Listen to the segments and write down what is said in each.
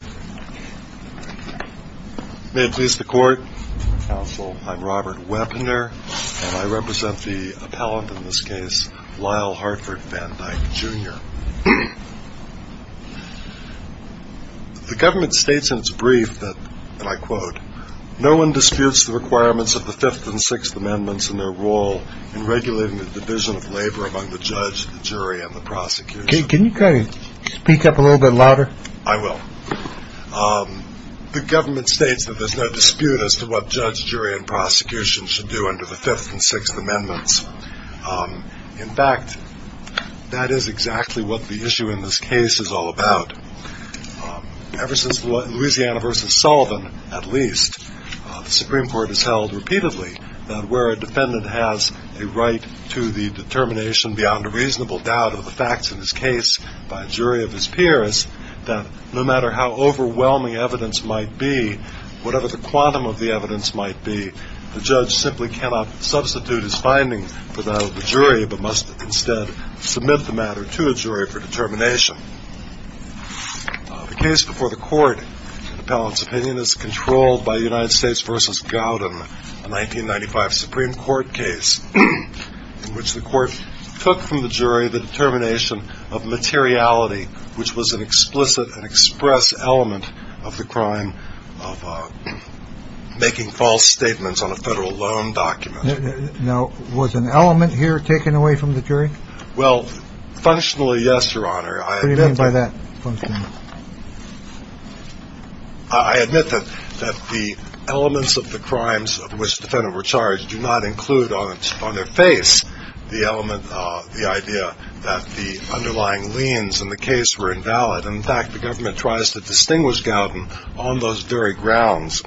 The government states in its brief that, and I quote, no one disputes the requirements of the Fifth and Sixth Amendments in their role in regulating the division of labor among the judge, jury, and prosecution. In fact, that is exactly what the issue in this case is all about. Ever since Louisiana v. Sullivan, at least, the Supreme Court has held repeatedly that where a defendant has a right to the determination beyond a reasonable doubt of the facts in his case by a jury of his peers, that no matter how overwhelming evidence might be, whatever the quantum of the evidence might be, the judge simply cannot substitute his finding for that of the jury, but must instead submit the matter to a jury for determination. The case before the court, the appellant's opinion, is controlled by United States v. Gowden, a 1995 Supreme Court case in which the court took from the jury the determination of materiality, which was an explicit and express element of the crime of making false statements on a federal loan document. Now, was an element here taken away from the jury? Well, functionally, yes, Your Honor. What do you mean by that, functionally? I admit that the elements of the crimes of which the defendant were charged do not include on their face the element, the idea that the underlying liens in the case were invalid. And, in fact, the government tries to distinguish Gowden on those very grounds.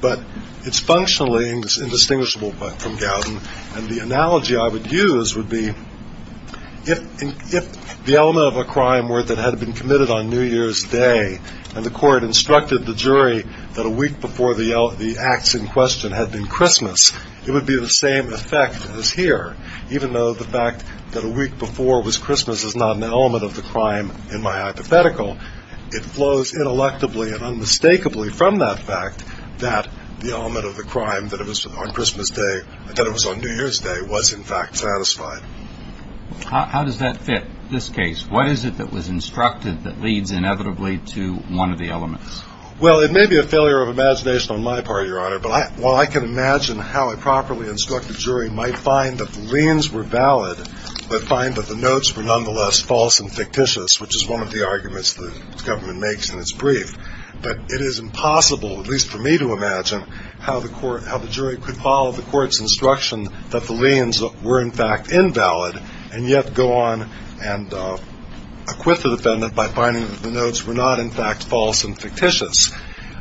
But it's functionally indistinguishable from Gowden. And the analogy I would use would be, if the element of a crime were that it had been committed on New Year's Day, and the court instructed the jury that a week before the acts in question had been Christmas, it would be the same effect as here. Even though the fact that a week before was Christmas is not an element of the crime in my hypothetical, it flows ineluctably and unmistakably from that fact that the element of the crime that it was on Christmas Day, that it was on New Year's Day, was in fact satisfied. How does that fit this case? What is it that was instructed that leads inevitably to one of the elements? Well, it may be a failure of imagination on my part, Your Honor, but while I can imagine how a properly instructed jury might find that the liens were valid, but find that the notes were nonetheless false and fictitious, which is one of the arguments the government makes in its brief, but it is impossible, at least for me to imagine, how the jury could follow the court's instruction that the liens were in fact invalid, and yet go on and acquit the defendant by finding that the notes were not in fact false and fictitious.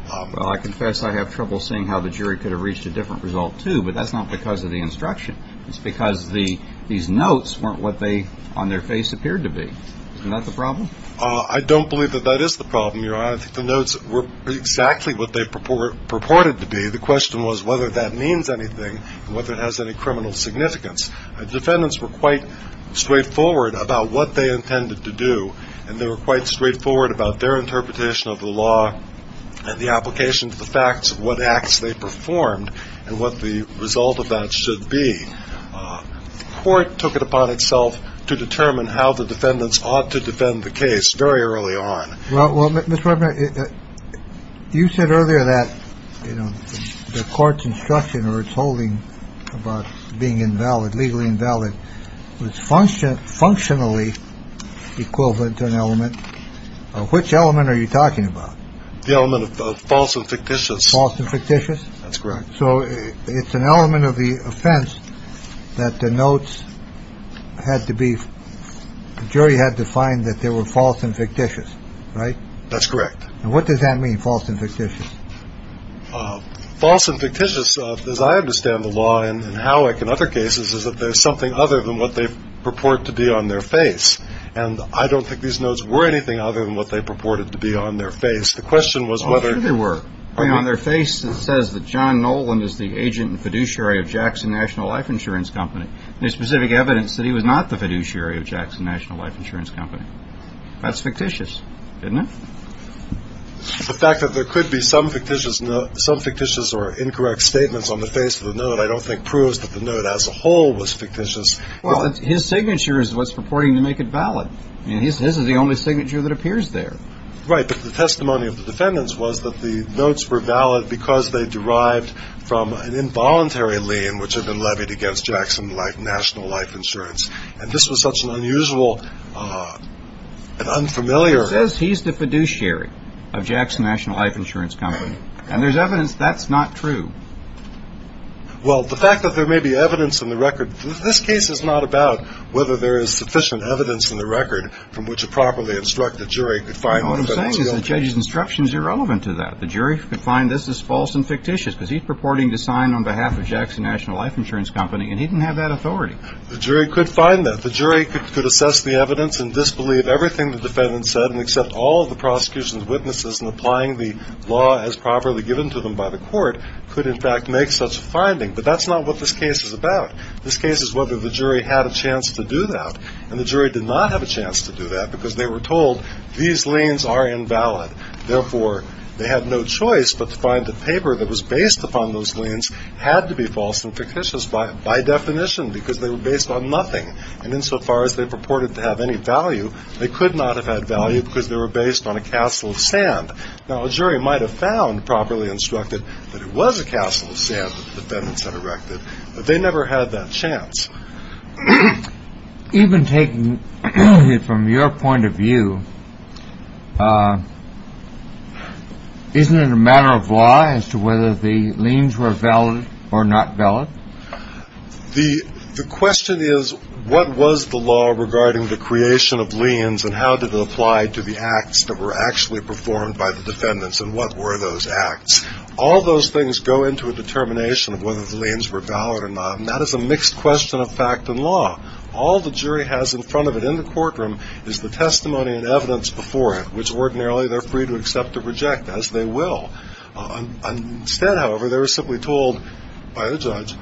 Well, I confess I have trouble seeing how the jury could have reached a different result, too, but that's not because of the instruction. It's because these notes weren't what they on their face appeared to be. Isn't that the problem? I don't believe that that is the problem, Your Honor. I think the notes were exactly what they purported to be. The question was whether that means anything and whether it has any criminal significance. Defendants were quite straightforward about what they intended to do, and they were quite straightforward about their interpretation of the law and the application to the facts of what acts they performed and what the result of that should be. The court took it upon itself to determine how the defendants ought to defend the case very early on. Well, you said earlier that, you know, the court's instruction or its holding about being invalid, legally invalid was function functionally equivalent to an element. Which element are you talking about? The element of false and fictitious, false and fictitious. That's correct. So it's an element of the offense that the notes had to be jury had to find that they were false and fictitious. Right. That's correct. What does that mean? False and fictitious. False and fictitious. As I understand the law and how I can other cases is that there's something other than what they purport to be on their face. And I don't think these notes were anything other than what they purported to be on their face. The question was whether they were on their face. It says that John Nolan is the agent and fiduciary of Jackson National Life Insurance Company. There's specific evidence that he was not the fiduciary of Jackson National Life Insurance Company. That's fictitious, isn't it? The fact that there could be some fictitious, some fictitious or incorrect statements on the face of the note, I don't think proves that the note as a whole was fictitious. Well, his signature is what's purporting to make it valid. And this is the only signature that appears there. Right. But the testimony of the defendants was that the notes were valid because they derived from an involuntary lien, which had been levied against Jackson National Life Insurance. And this was such an unusual and unfamiliar. It says he's the fiduciary of Jackson National Life Insurance Company. And there's evidence that's not true. Well, the fact that there may be evidence in the record, this case is not about whether there is sufficient evidence in the record from which a properly instructed jury could find. What I'm saying is the judge's instructions are irrelevant to that. The jury could find this is false and fictitious because he's purporting to sign on behalf of Jackson National Life Insurance Company. And he didn't have that authority. The jury could find that the jury could assess the evidence and disbelieve everything the defendant said and accept all of the prosecution's witnesses and applying the law as properly given to them by the court could, in fact, make such a finding. But that's not what this case is about. This case is whether the jury had a chance to do that and the jury did not have a chance to do that because they were told these liens are invalid. Therefore, they had no choice but to find the paper that was based upon those liens had to be false and fictitious by definition because they were based on nothing. And insofar as they purported to have any value, they could not have had value because they were based on a castle of sand. Now, a jury might have found properly instructed that it was a castle of sand that the defendants had erected, but they never had that chance even taking it from your point of view. Isn't it a matter of law as to whether the liens were valid or not valid? The question is, what was the law regarding the creation of liens and how did it apply to the acts that were actually performed by the defendants and what were those acts? All those things go into a determination of whether the liens were valid or not. And that is a mixed question of fact and law. All the jury has in front of it in the courtroom is the testimony and evidence before it, which ordinarily they're free to accept or reject as they will. Instead, however, they were simply told by the judge,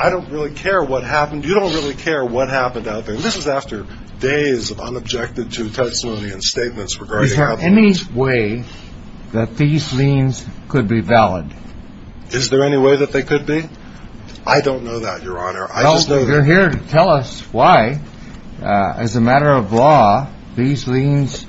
I don't really care what happened. You don't really care what happened out there. And this is after days of unobjected to testimony and statements regarding any way that these liens could be valid. Is there any way that they could be? I don't know that, Your Honor. I just know that you're here to tell us why, as a matter of law, these liens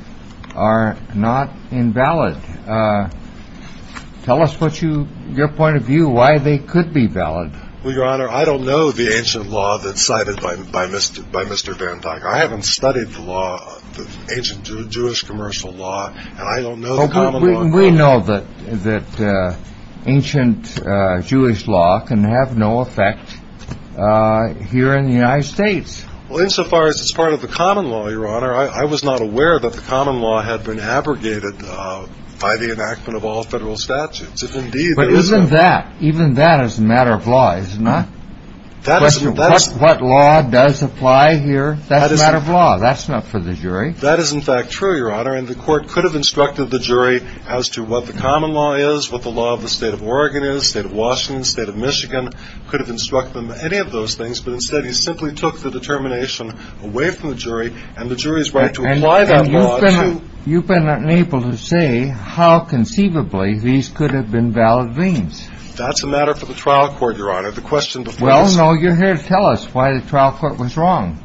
are not invalid. Tell us your point of view, why they could be valid. Well, Your Honor, I don't know the ancient law that's cited by Mr. Van Dyck. I haven't studied the law, the ancient Jewish commercial law, and I don't know the common law. We know that ancient Jewish law can have no effect here in the United States. Well, insofar as it's part of the common law, Your Honor, I was not aware that the common law had been abrogated by the enactment of all federal statutes. But even that, even that is a matter of law, is it not? What law does apply here? That's a matter of law. That's not for the jury. That is, in fact, true, Your Honor. And the court could have instructed the jury as to what the common law is, what the law of the state of Oregon is, state of Washington, state of Michigan, could have instructed them any of those things. But instead, he simply took the determination away from the jury and the jury's right to apply that law. You've been unable to say how conceivably these could have been valid liens. That's a matter for the trial court, Your Honor. The question before us... Well, no. You're here to tell us why the trial court was wrong.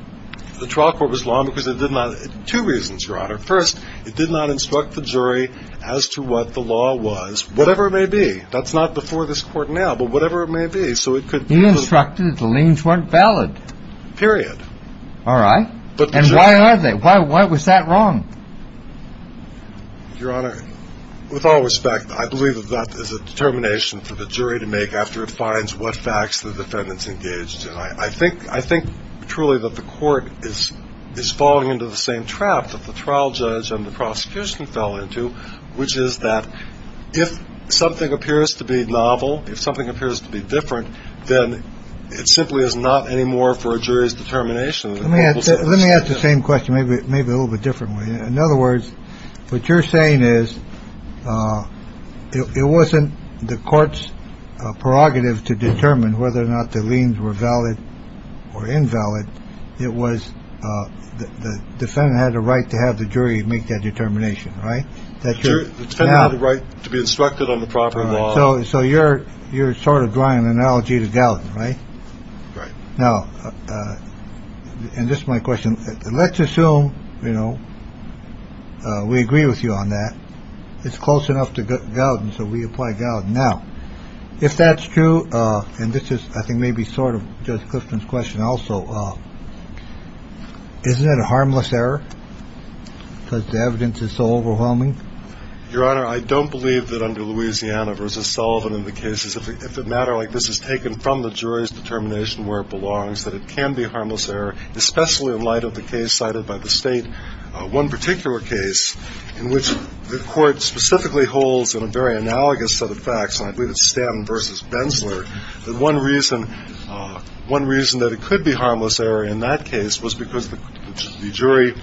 The trial court was wrong because it did not... Two reasons, Your Honor. First, it did not instruct the jury as to what the law was, whatever it may be. That's not before this court now, but whatever it may be. So it could... He instructed that the liens weren't valid. Period. All right. And why are they? Why was that wrong? Your Honor, with all respect, I believe that that is a determination for the jury to make after it finds what facts the defendants engaged. And I think truly that the court is falling into the same trap that the trial judge and the prosecution fell into, which is that if something appears to be novel, if something appears to be different, then it simply is not anymore for a jury's determination. Let me ask the same question, maybe a little bit differently. In other words, what you're saying is it wasn't the court's prerogative to determine whether or not the liens were valid or invalid. It was the defendant had a right to have the jury make that determination. Right. The defendant had the right to be instructed on the proper law. So you're sort of drawing an analogy to Gallatin, right? Right. Now, and this is my question. Let's assume, you know, we agree with you on that. It's close enough to Gallatin. So we apply Gallatin. Now, if that's true, and this is, I think, maybe sort of Judge Clifton's question. Also, isn't that a harmless error? Because the evidence is so overwhelming. Your Honor, I don't believe that under Louisiana versus Sullivan in the cases, if a matter like this is taken from the jury's determination where it belongs, that it can be harmless error, especially in light of the case cited by the State. One particular case in which the Court specifically holds in a very analogous set of facts, and I believe it's Stanton versus Bensler, that one reason that it could be harmless error in that case was because the jury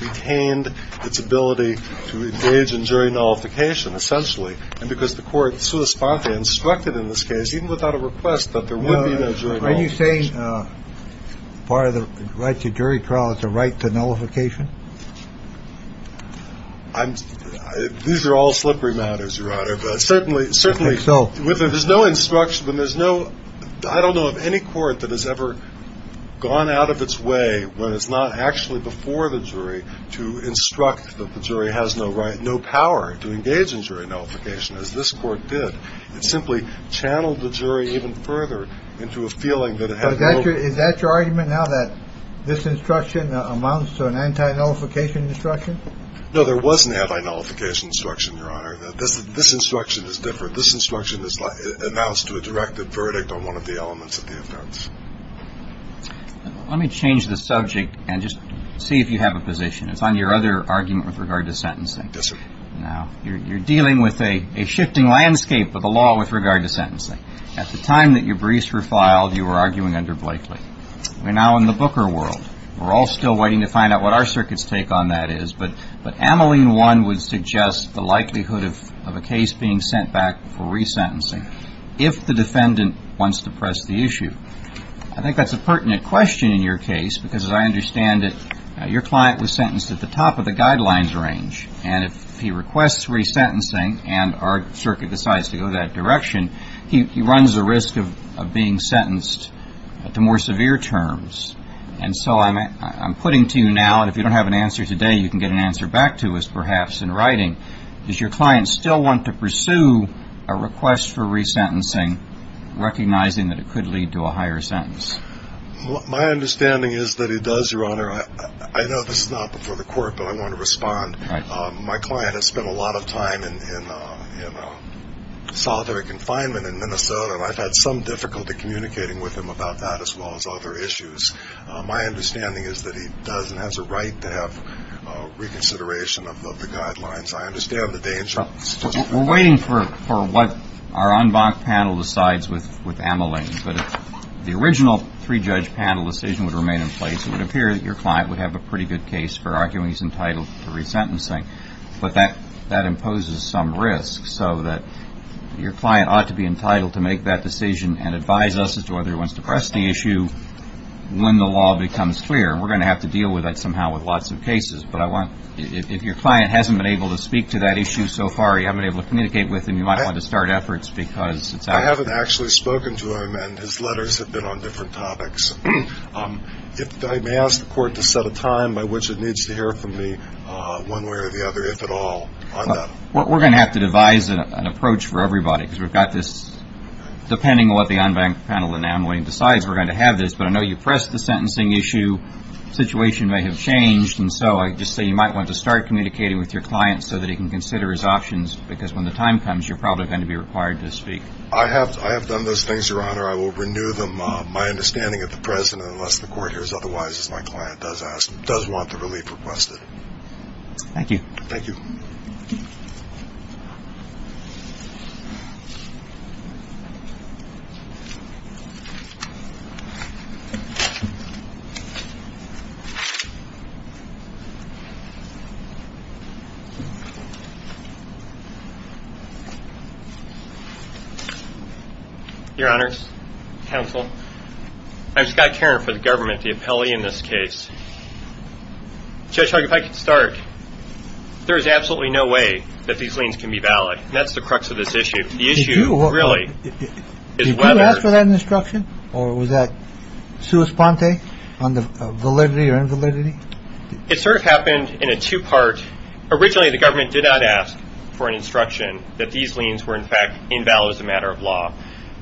retained its ability to engage in jury nullification, essentially. And because the Court, sua sponte, instructed in this case, even without a request, that there would be no jury nullification. Are you saying part of the right to jury trial is the right to nullification? I'm, these are all slippery matters, Your Honor. But certainly, there's no instruction, but there's no, I don't know of any court that has ever gone out of its way, when it's not actually before the jury, to instruct that the jury has no right, no power to engage in jury nullification, as this Court did. It simply channeled the jury even further into a feeling that it had no- Is that your argument now, that this instruction amounts to an anti-nullification instruction? No, there was an anti-nullification instruction, Your Honor. This instruction is different. This instruction is announced to a directed verdict on one of the elements of the offense. Let me change the subject, and just see if you have a position. It's on your other argument with regard to sentencing. Yes, sir. Now, you're dealing with a shifting landscape of the law with regard to sentencing. At the time that your briefs were filed, you were arguing under Blakely. We're now in the Booker world. We're all still waiting to find out what our circuits take on that is. But Ameline 1 would suggest the likelihood of a case being sent back for resentencing, if the defendant wants to press the issue. I think that's a pertinent question in your case, because as I understand it, your client was sentenced at the top of the guidelines range. And if he requests resentencing, and our circuit decides to go that direction, he runs the risk of being sentenced to more severe terms. And so I'm putting to you now, and if you don't have an answer today, you can get an answer back to us perhaps in writing, does your client still want to pursue a request for resentencing, recognizing that it could lead to a higher sentence? My understanding is that he does, Your Honor. I know this is not before the court, but I want to respond. My client has spent a lot of time in solitary confinement in Minnesota, and I've had some difficulty communicating with him about that, as well as other issues. My understanding is that he does and has a right to have reconsideration of the guidelines. I understand the danger. We're waiting for what our en banc panel decides with Amelain. But if the original three-judge panel decision would remain in place, it would appear that your client would have a pretty good case for arguing he's entitled to resentencing. But that imposes some risk. So that your client ought to be entitled to make that decision and advise us as to whether he wants to press the issue when the law becomes clear. And we're going to have to deal with that somehow with lots of cases. If your client hasn't been able to speak to that issue so far, you haven't been able to communicate with him, you might want to start efforts. I haven't actually spoken to him, and his letters have been on different topics. I may ask the court to set a time by which it needs to hear from me, one way or the other, if at all. We're going to have to devise an approach for everybody. Depending on what the en banc panel and Amelain decides, we're going to have this. But I know you pressed the sentencing issue. The situation may have changed. I just say you might want to start communicating with your client so that he can consider his options. Because when the time comes, you're probably going to be required to speak. I have done those things, Your Honor. I will renew them, my understanding at the present, unless the court hears otherwise, as my client does want the relief requested. Thank you. Thank you. Your Honor's counsel. I've got Karen for the government, the appellee in this case. Judge, if I could start. There is absolutely no way that these things can be valid. That's the crux of this issue. The issue really is whether after that instruction or was that on the validity or invalidity. It sort of happened in a two part. Originally, the government did not ask for an instruction that these liens were in fact invalid as a matter of law.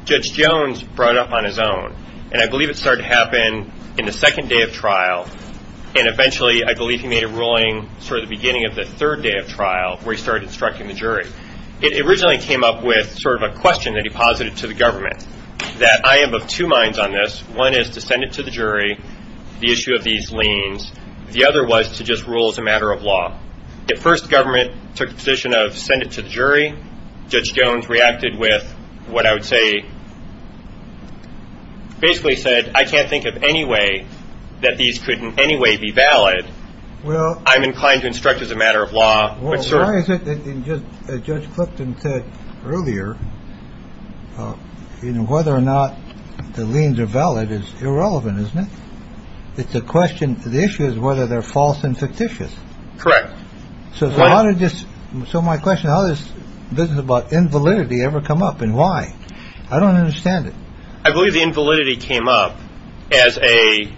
Judge Jones brought up on his own. And I believe it started to happen in the second day of trial. And eventually, I believe he made a ruling for the beginning of the third day of trial, where he started instructing the jury. It originally came up with sort of a question that he posited to the government that I am of two minds on this. One is to send it to the jury. The issue of these liens. The other was to just rule as a matter of law. The first government took the position of send it to the jury. Judge Jones reacted with what I would say. Basically said, I can't think of any way that these could in any way be valid. Well, I'm inclined to instruct as a matter of law. Well, why is it that Judge Clifton said earlier? Well, you know, whether or not the liens are valid is irrelevant, isn't it? It's a question. The issue is whether they're false and fictitious. Correct. So how did this? So my question, how this business about invalidity ever come up and why? I don't understand it. I believe the invalidity came up as a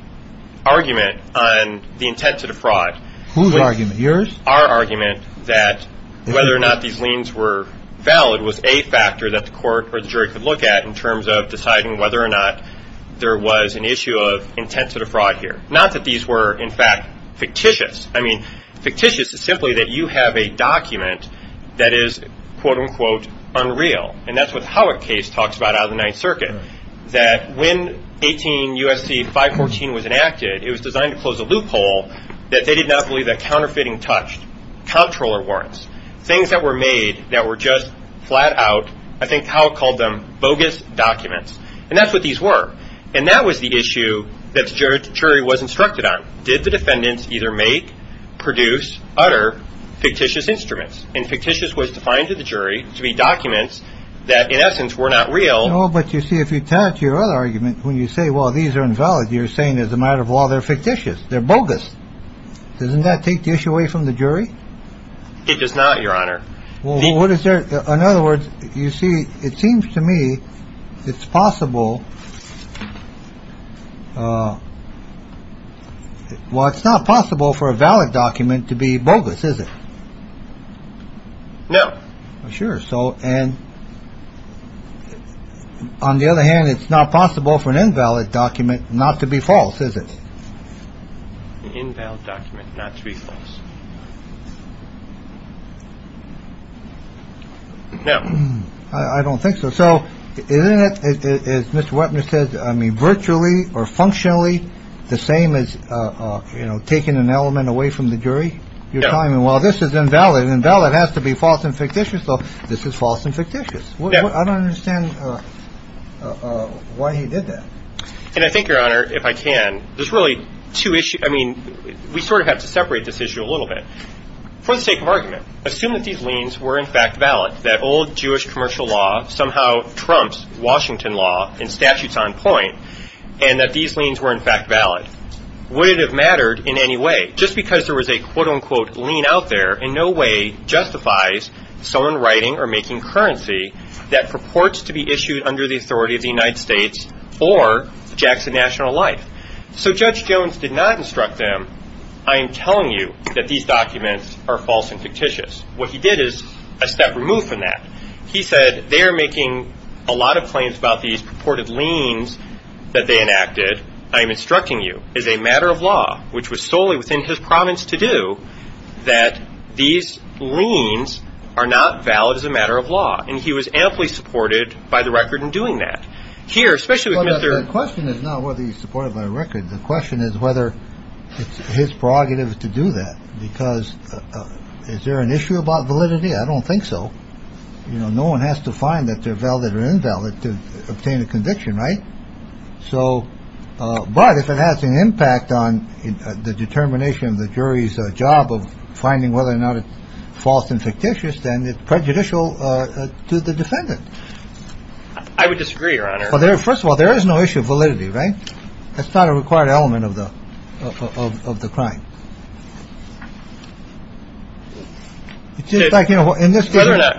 argument on the intent to defraud. Whose argument? Yours. Our argument that whether or not these liens were valid was a factor that the court or the jury could look at in terms of deciding whether or not there was an issue of intent to defraud here. Not that these were, in fact, fictitious. I mean, fictitious is simply that you have a document that is, quote unquote, unreal. And that's what Howard case talks about out of the Ninth Circuit, that when 18 USC 514 was enacted, it was designed to close a loophole that they did not believe that counterfeiting touched comptroller warrants, things that were made that were just flat out. I think how it called them bogus documents. And that's what these were. And that was the issue that the jury was instructed on. Did the defendants either make, produce, utter fictitious instruments? And fictitious was defined to the jury to be documents that, in essence, were not real. Oh, but you see, if you turn to your other argument, when you say, well, these are invalid, you're saying as a matter of law, they're fictitious. They're bogus. Doesn't that take the issue away from the jury? It does not, Your Honor. Well, what is there? In other words, you see, it seems to me it's possible. Well, it's not possible for a valid document to be bogus, is it? No. Sure. So and on the other hand, it's not possible for an invalid document not to be false, is it? An invalid document not to be false. No, I don't think so. So isn't it, as Mr. Wepner says, I mean, virtually or functionally the same as, you know, taking an element away from the jury? You're telling me, well, this is invalid. Invalid has to be false and fictitious. So this is false and fictitious. I don't understand why he did that. And I think, Your Honor, if I can, there's really two issues. I mean, we sort of have to separate this issue a little bit. For the sake of argument, assume that these liens were in fact valid, that old Jewish commercial law somehow trumps Washington law and statutes on point, and that these liens were in fact valid. Would it have mattered in any way? Just because there was a quote unquote lien out there in no way justifies someone writing or making currency that purports to be issued under the authority of the United States or Jackson National Life. So Judge Jones did not instruct them, I am telling you that these documents are false and fictitious. What he did is a step removed from that. He said, they are making a lot of claims about these purported liens that they enacted. I am instructing you as a matter of law, which was solely within his province to do, that these liens are not valid as a matter of law. And he was amply supported by the record in doing that. Here, especially with Mr. Question is not whether he supported by record. The question is whether it's his prerogatives to do that, because is there an issue about validity? I don't think so. You know, no one has to find that they're valid or invalid to obtain a conviction. Right. So but if it has an impact on the determination of the jury's job of finding whether or not it's false and fictitious, then it's prejudicial to the defendant. I would disagree, Your Honor. Well, first of all, there is no issue of validity, right? That's not a required element of the of the crime. It's just like, you know, in this case,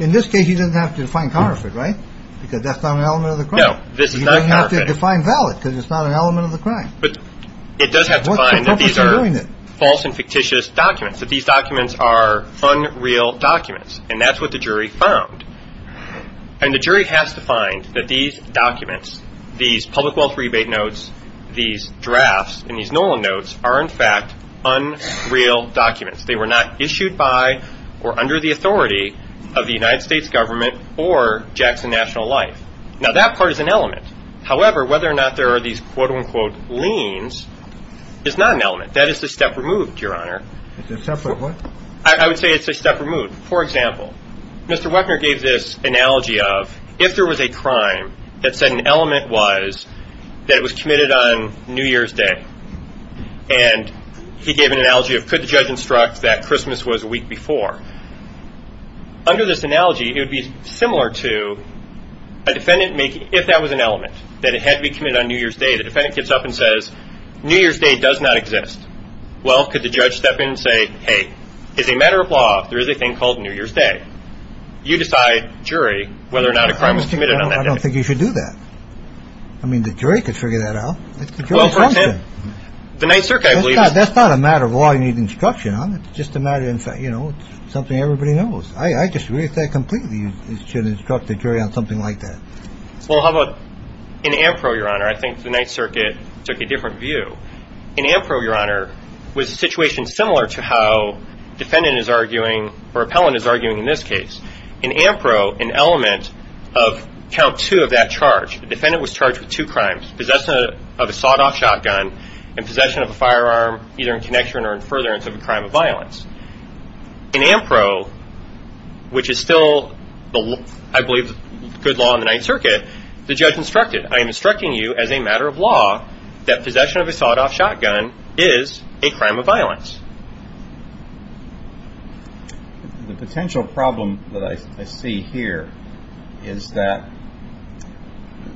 in this case, you didn't have to find counterfeit, right? Because that's not an element of the crime. No, this is not. You have to define valid because it's not an element of the crime. But it does have to find that these are false and fictitious documents, that these documents are unreal documents. And that's what the jury found. And the jury has to find that these documents, these public wealth rebate notes, these drafts and these Nolan notes are, in fact, unreal documents. They were not issued by or under the authority of the United States government or Jackson National Life. Now, that part is an element. However, whether or not there are these, quote unquote, liens is not an element. That is a step removed, Your Honor. It's a step of what? I would say it's a step removed. For example, Mr. Wepner gave this analogy of if there was a crime that said an element was that it was committed on New Year's Day. And he gave an analogy of could the judge instruct that Christmas was a week before. Under this analogy, it would be similar to a defendant making, if that was an element, that it had to be committed on New Year's Day. The defendant gets up and says, New Year's Day does not exist. Well, could the judge step in and say, hey, it's a matter of law. There is a thing called New Year's Day. You decide, jury, whether or not a crime was committed on that day. I don't think you should do that. I mean, the jury could figure that out. It's the jury's function. The Ninth Circuit, I believe. That's not a matter of law you need instruction on. It's just a matter of, you know, something everybody knows. I disagree with that completely. You should instruct the jury on something like that. Well, how about in Ampro, Your Honor? I think the Ninth Circuit took a different view. In Ampro, Your Honor, was a situation similar to how defendant is arguing, or appellant is arguing in this case. In Ampro, an element of count two of that charge, the defendant was charged with two crimes, possession of a sawed-off shotgun and possession of a firearm, either in connection or in furtherance of a crime of violence. In Ampro, which is still, I believe, good law in the Ninth Circuit, the judge instructed, I am instructing you as a matter of law that possession of a sawed-off shotgun is a crime of violence. The potential problem that I see here is that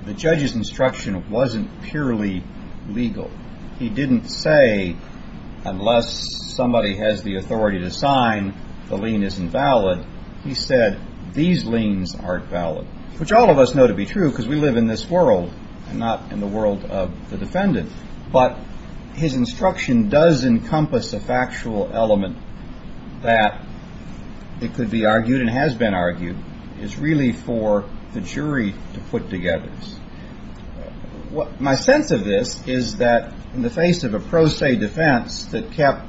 the judge's instruction wasn't purely legal. He didn't say unless somebody has the authority to sign, the lien isn't valid. He said these liens aren't valid, which all of us know to be true because we live in this world and not in the world of the defendant. But his instruction does encompass a factual element that it could be argued and has been argued. It's really for the jury to put together. My sense of this is that in the face of a pro se defense that kept,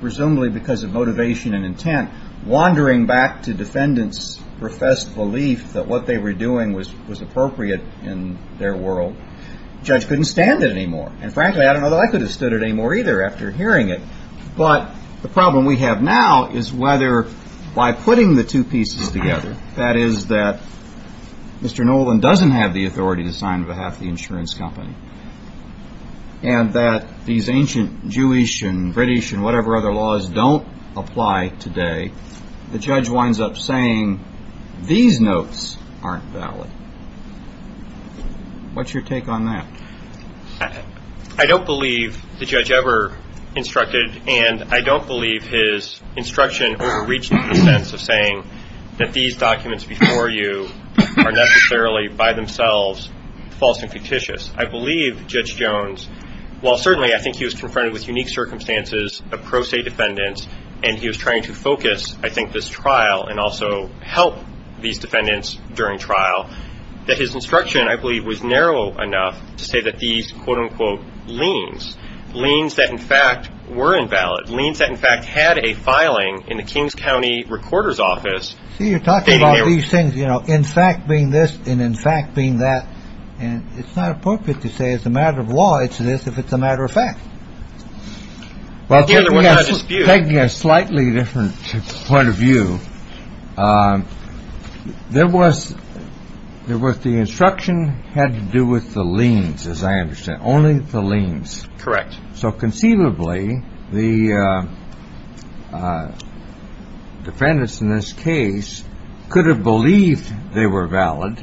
presumably because of motivation and intent, wandering back to defendants' professed belief that what they were doing was appropriate in their world, the judge couldn't stand it anymore. And frankly, I don't know that I could have stood it anymore either after hearing it. But the problem we have now is whether by putting the two pieces together, that is that Mr. Nolan doesn't have the authority to sign on behalf of the insurance company and that these ancient Jewish and British and whatever other laws don't apply today, the judge winds up saying these notes aren't valid. What's your take on that? I don't believe the judge ever instructed, and I don't believe his instruction overreached the sense of saying that these documents before you are necessarily by themselves false and fictitious. I believe Judge Jones, while certainly I think he was confronted with unique circumstances of pro se defendants, and he was trying to focus, I think, this trial and also help these defendants during trial, that his instruction, I believe, was narrow enough to say that these, quote-unquote, liens, liens that in fact were invalid, liens that in fact had a filing in the Kings County Recorder's Office. See, you're talking about these things, you know, in fact being this and in fact being that. And it's not appropriate to say it's a matter of law. It's this if it's a matter of fact. Well, taking a slightly different point of view, there was the instruction had to do with the liens, as I understand, only the liens. Correct. So conceivably the defendants in this case could have believed they were valid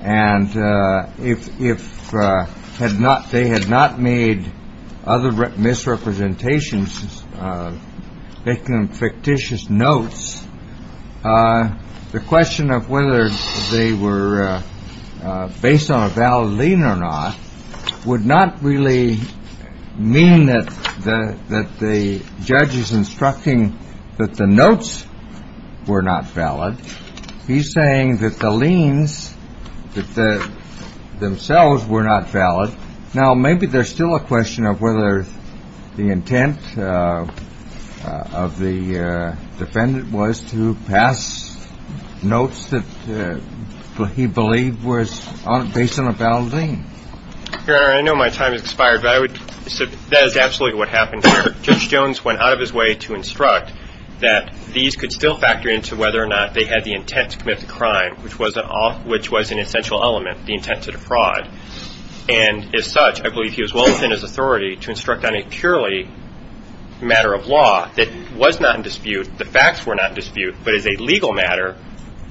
and if they had not made other misrepresentations, making fictitious notes, the question of whether they were based on a valid lien or not would not really mean that the judge is instructing that the notes were not valid. He's saying that the liens themselves were not valid. Now, maybe there's still a question of whether the intent of the defendant was to pass notes that he believed was based on a valid lien. Your Honor, I know my time has expired, but that is absolutely what happened here. Judge Jones went out of his way to instruct that these could still factor into whether or not they had the intent to commit the crime, which was an essential element, the intent to defraud. And as such, I believe he was well within his authority to instruct on a purely matter of law that was not in dispute, the facts were not in dispute, but as a legal matter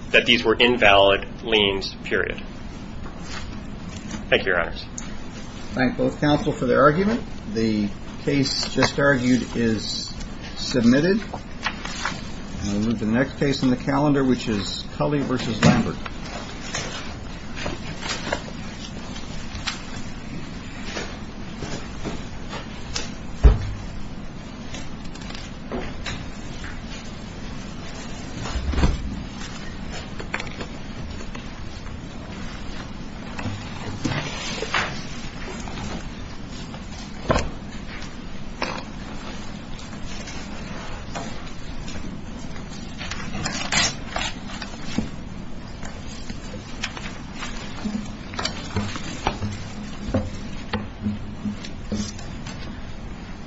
that these were invalid liens, period. Thank you, Your Honors. Thank both counsel for their argument. The case just argued is submitted. And we'll move to the next case in the calendar, which is Culley versus Lambert. Thank you.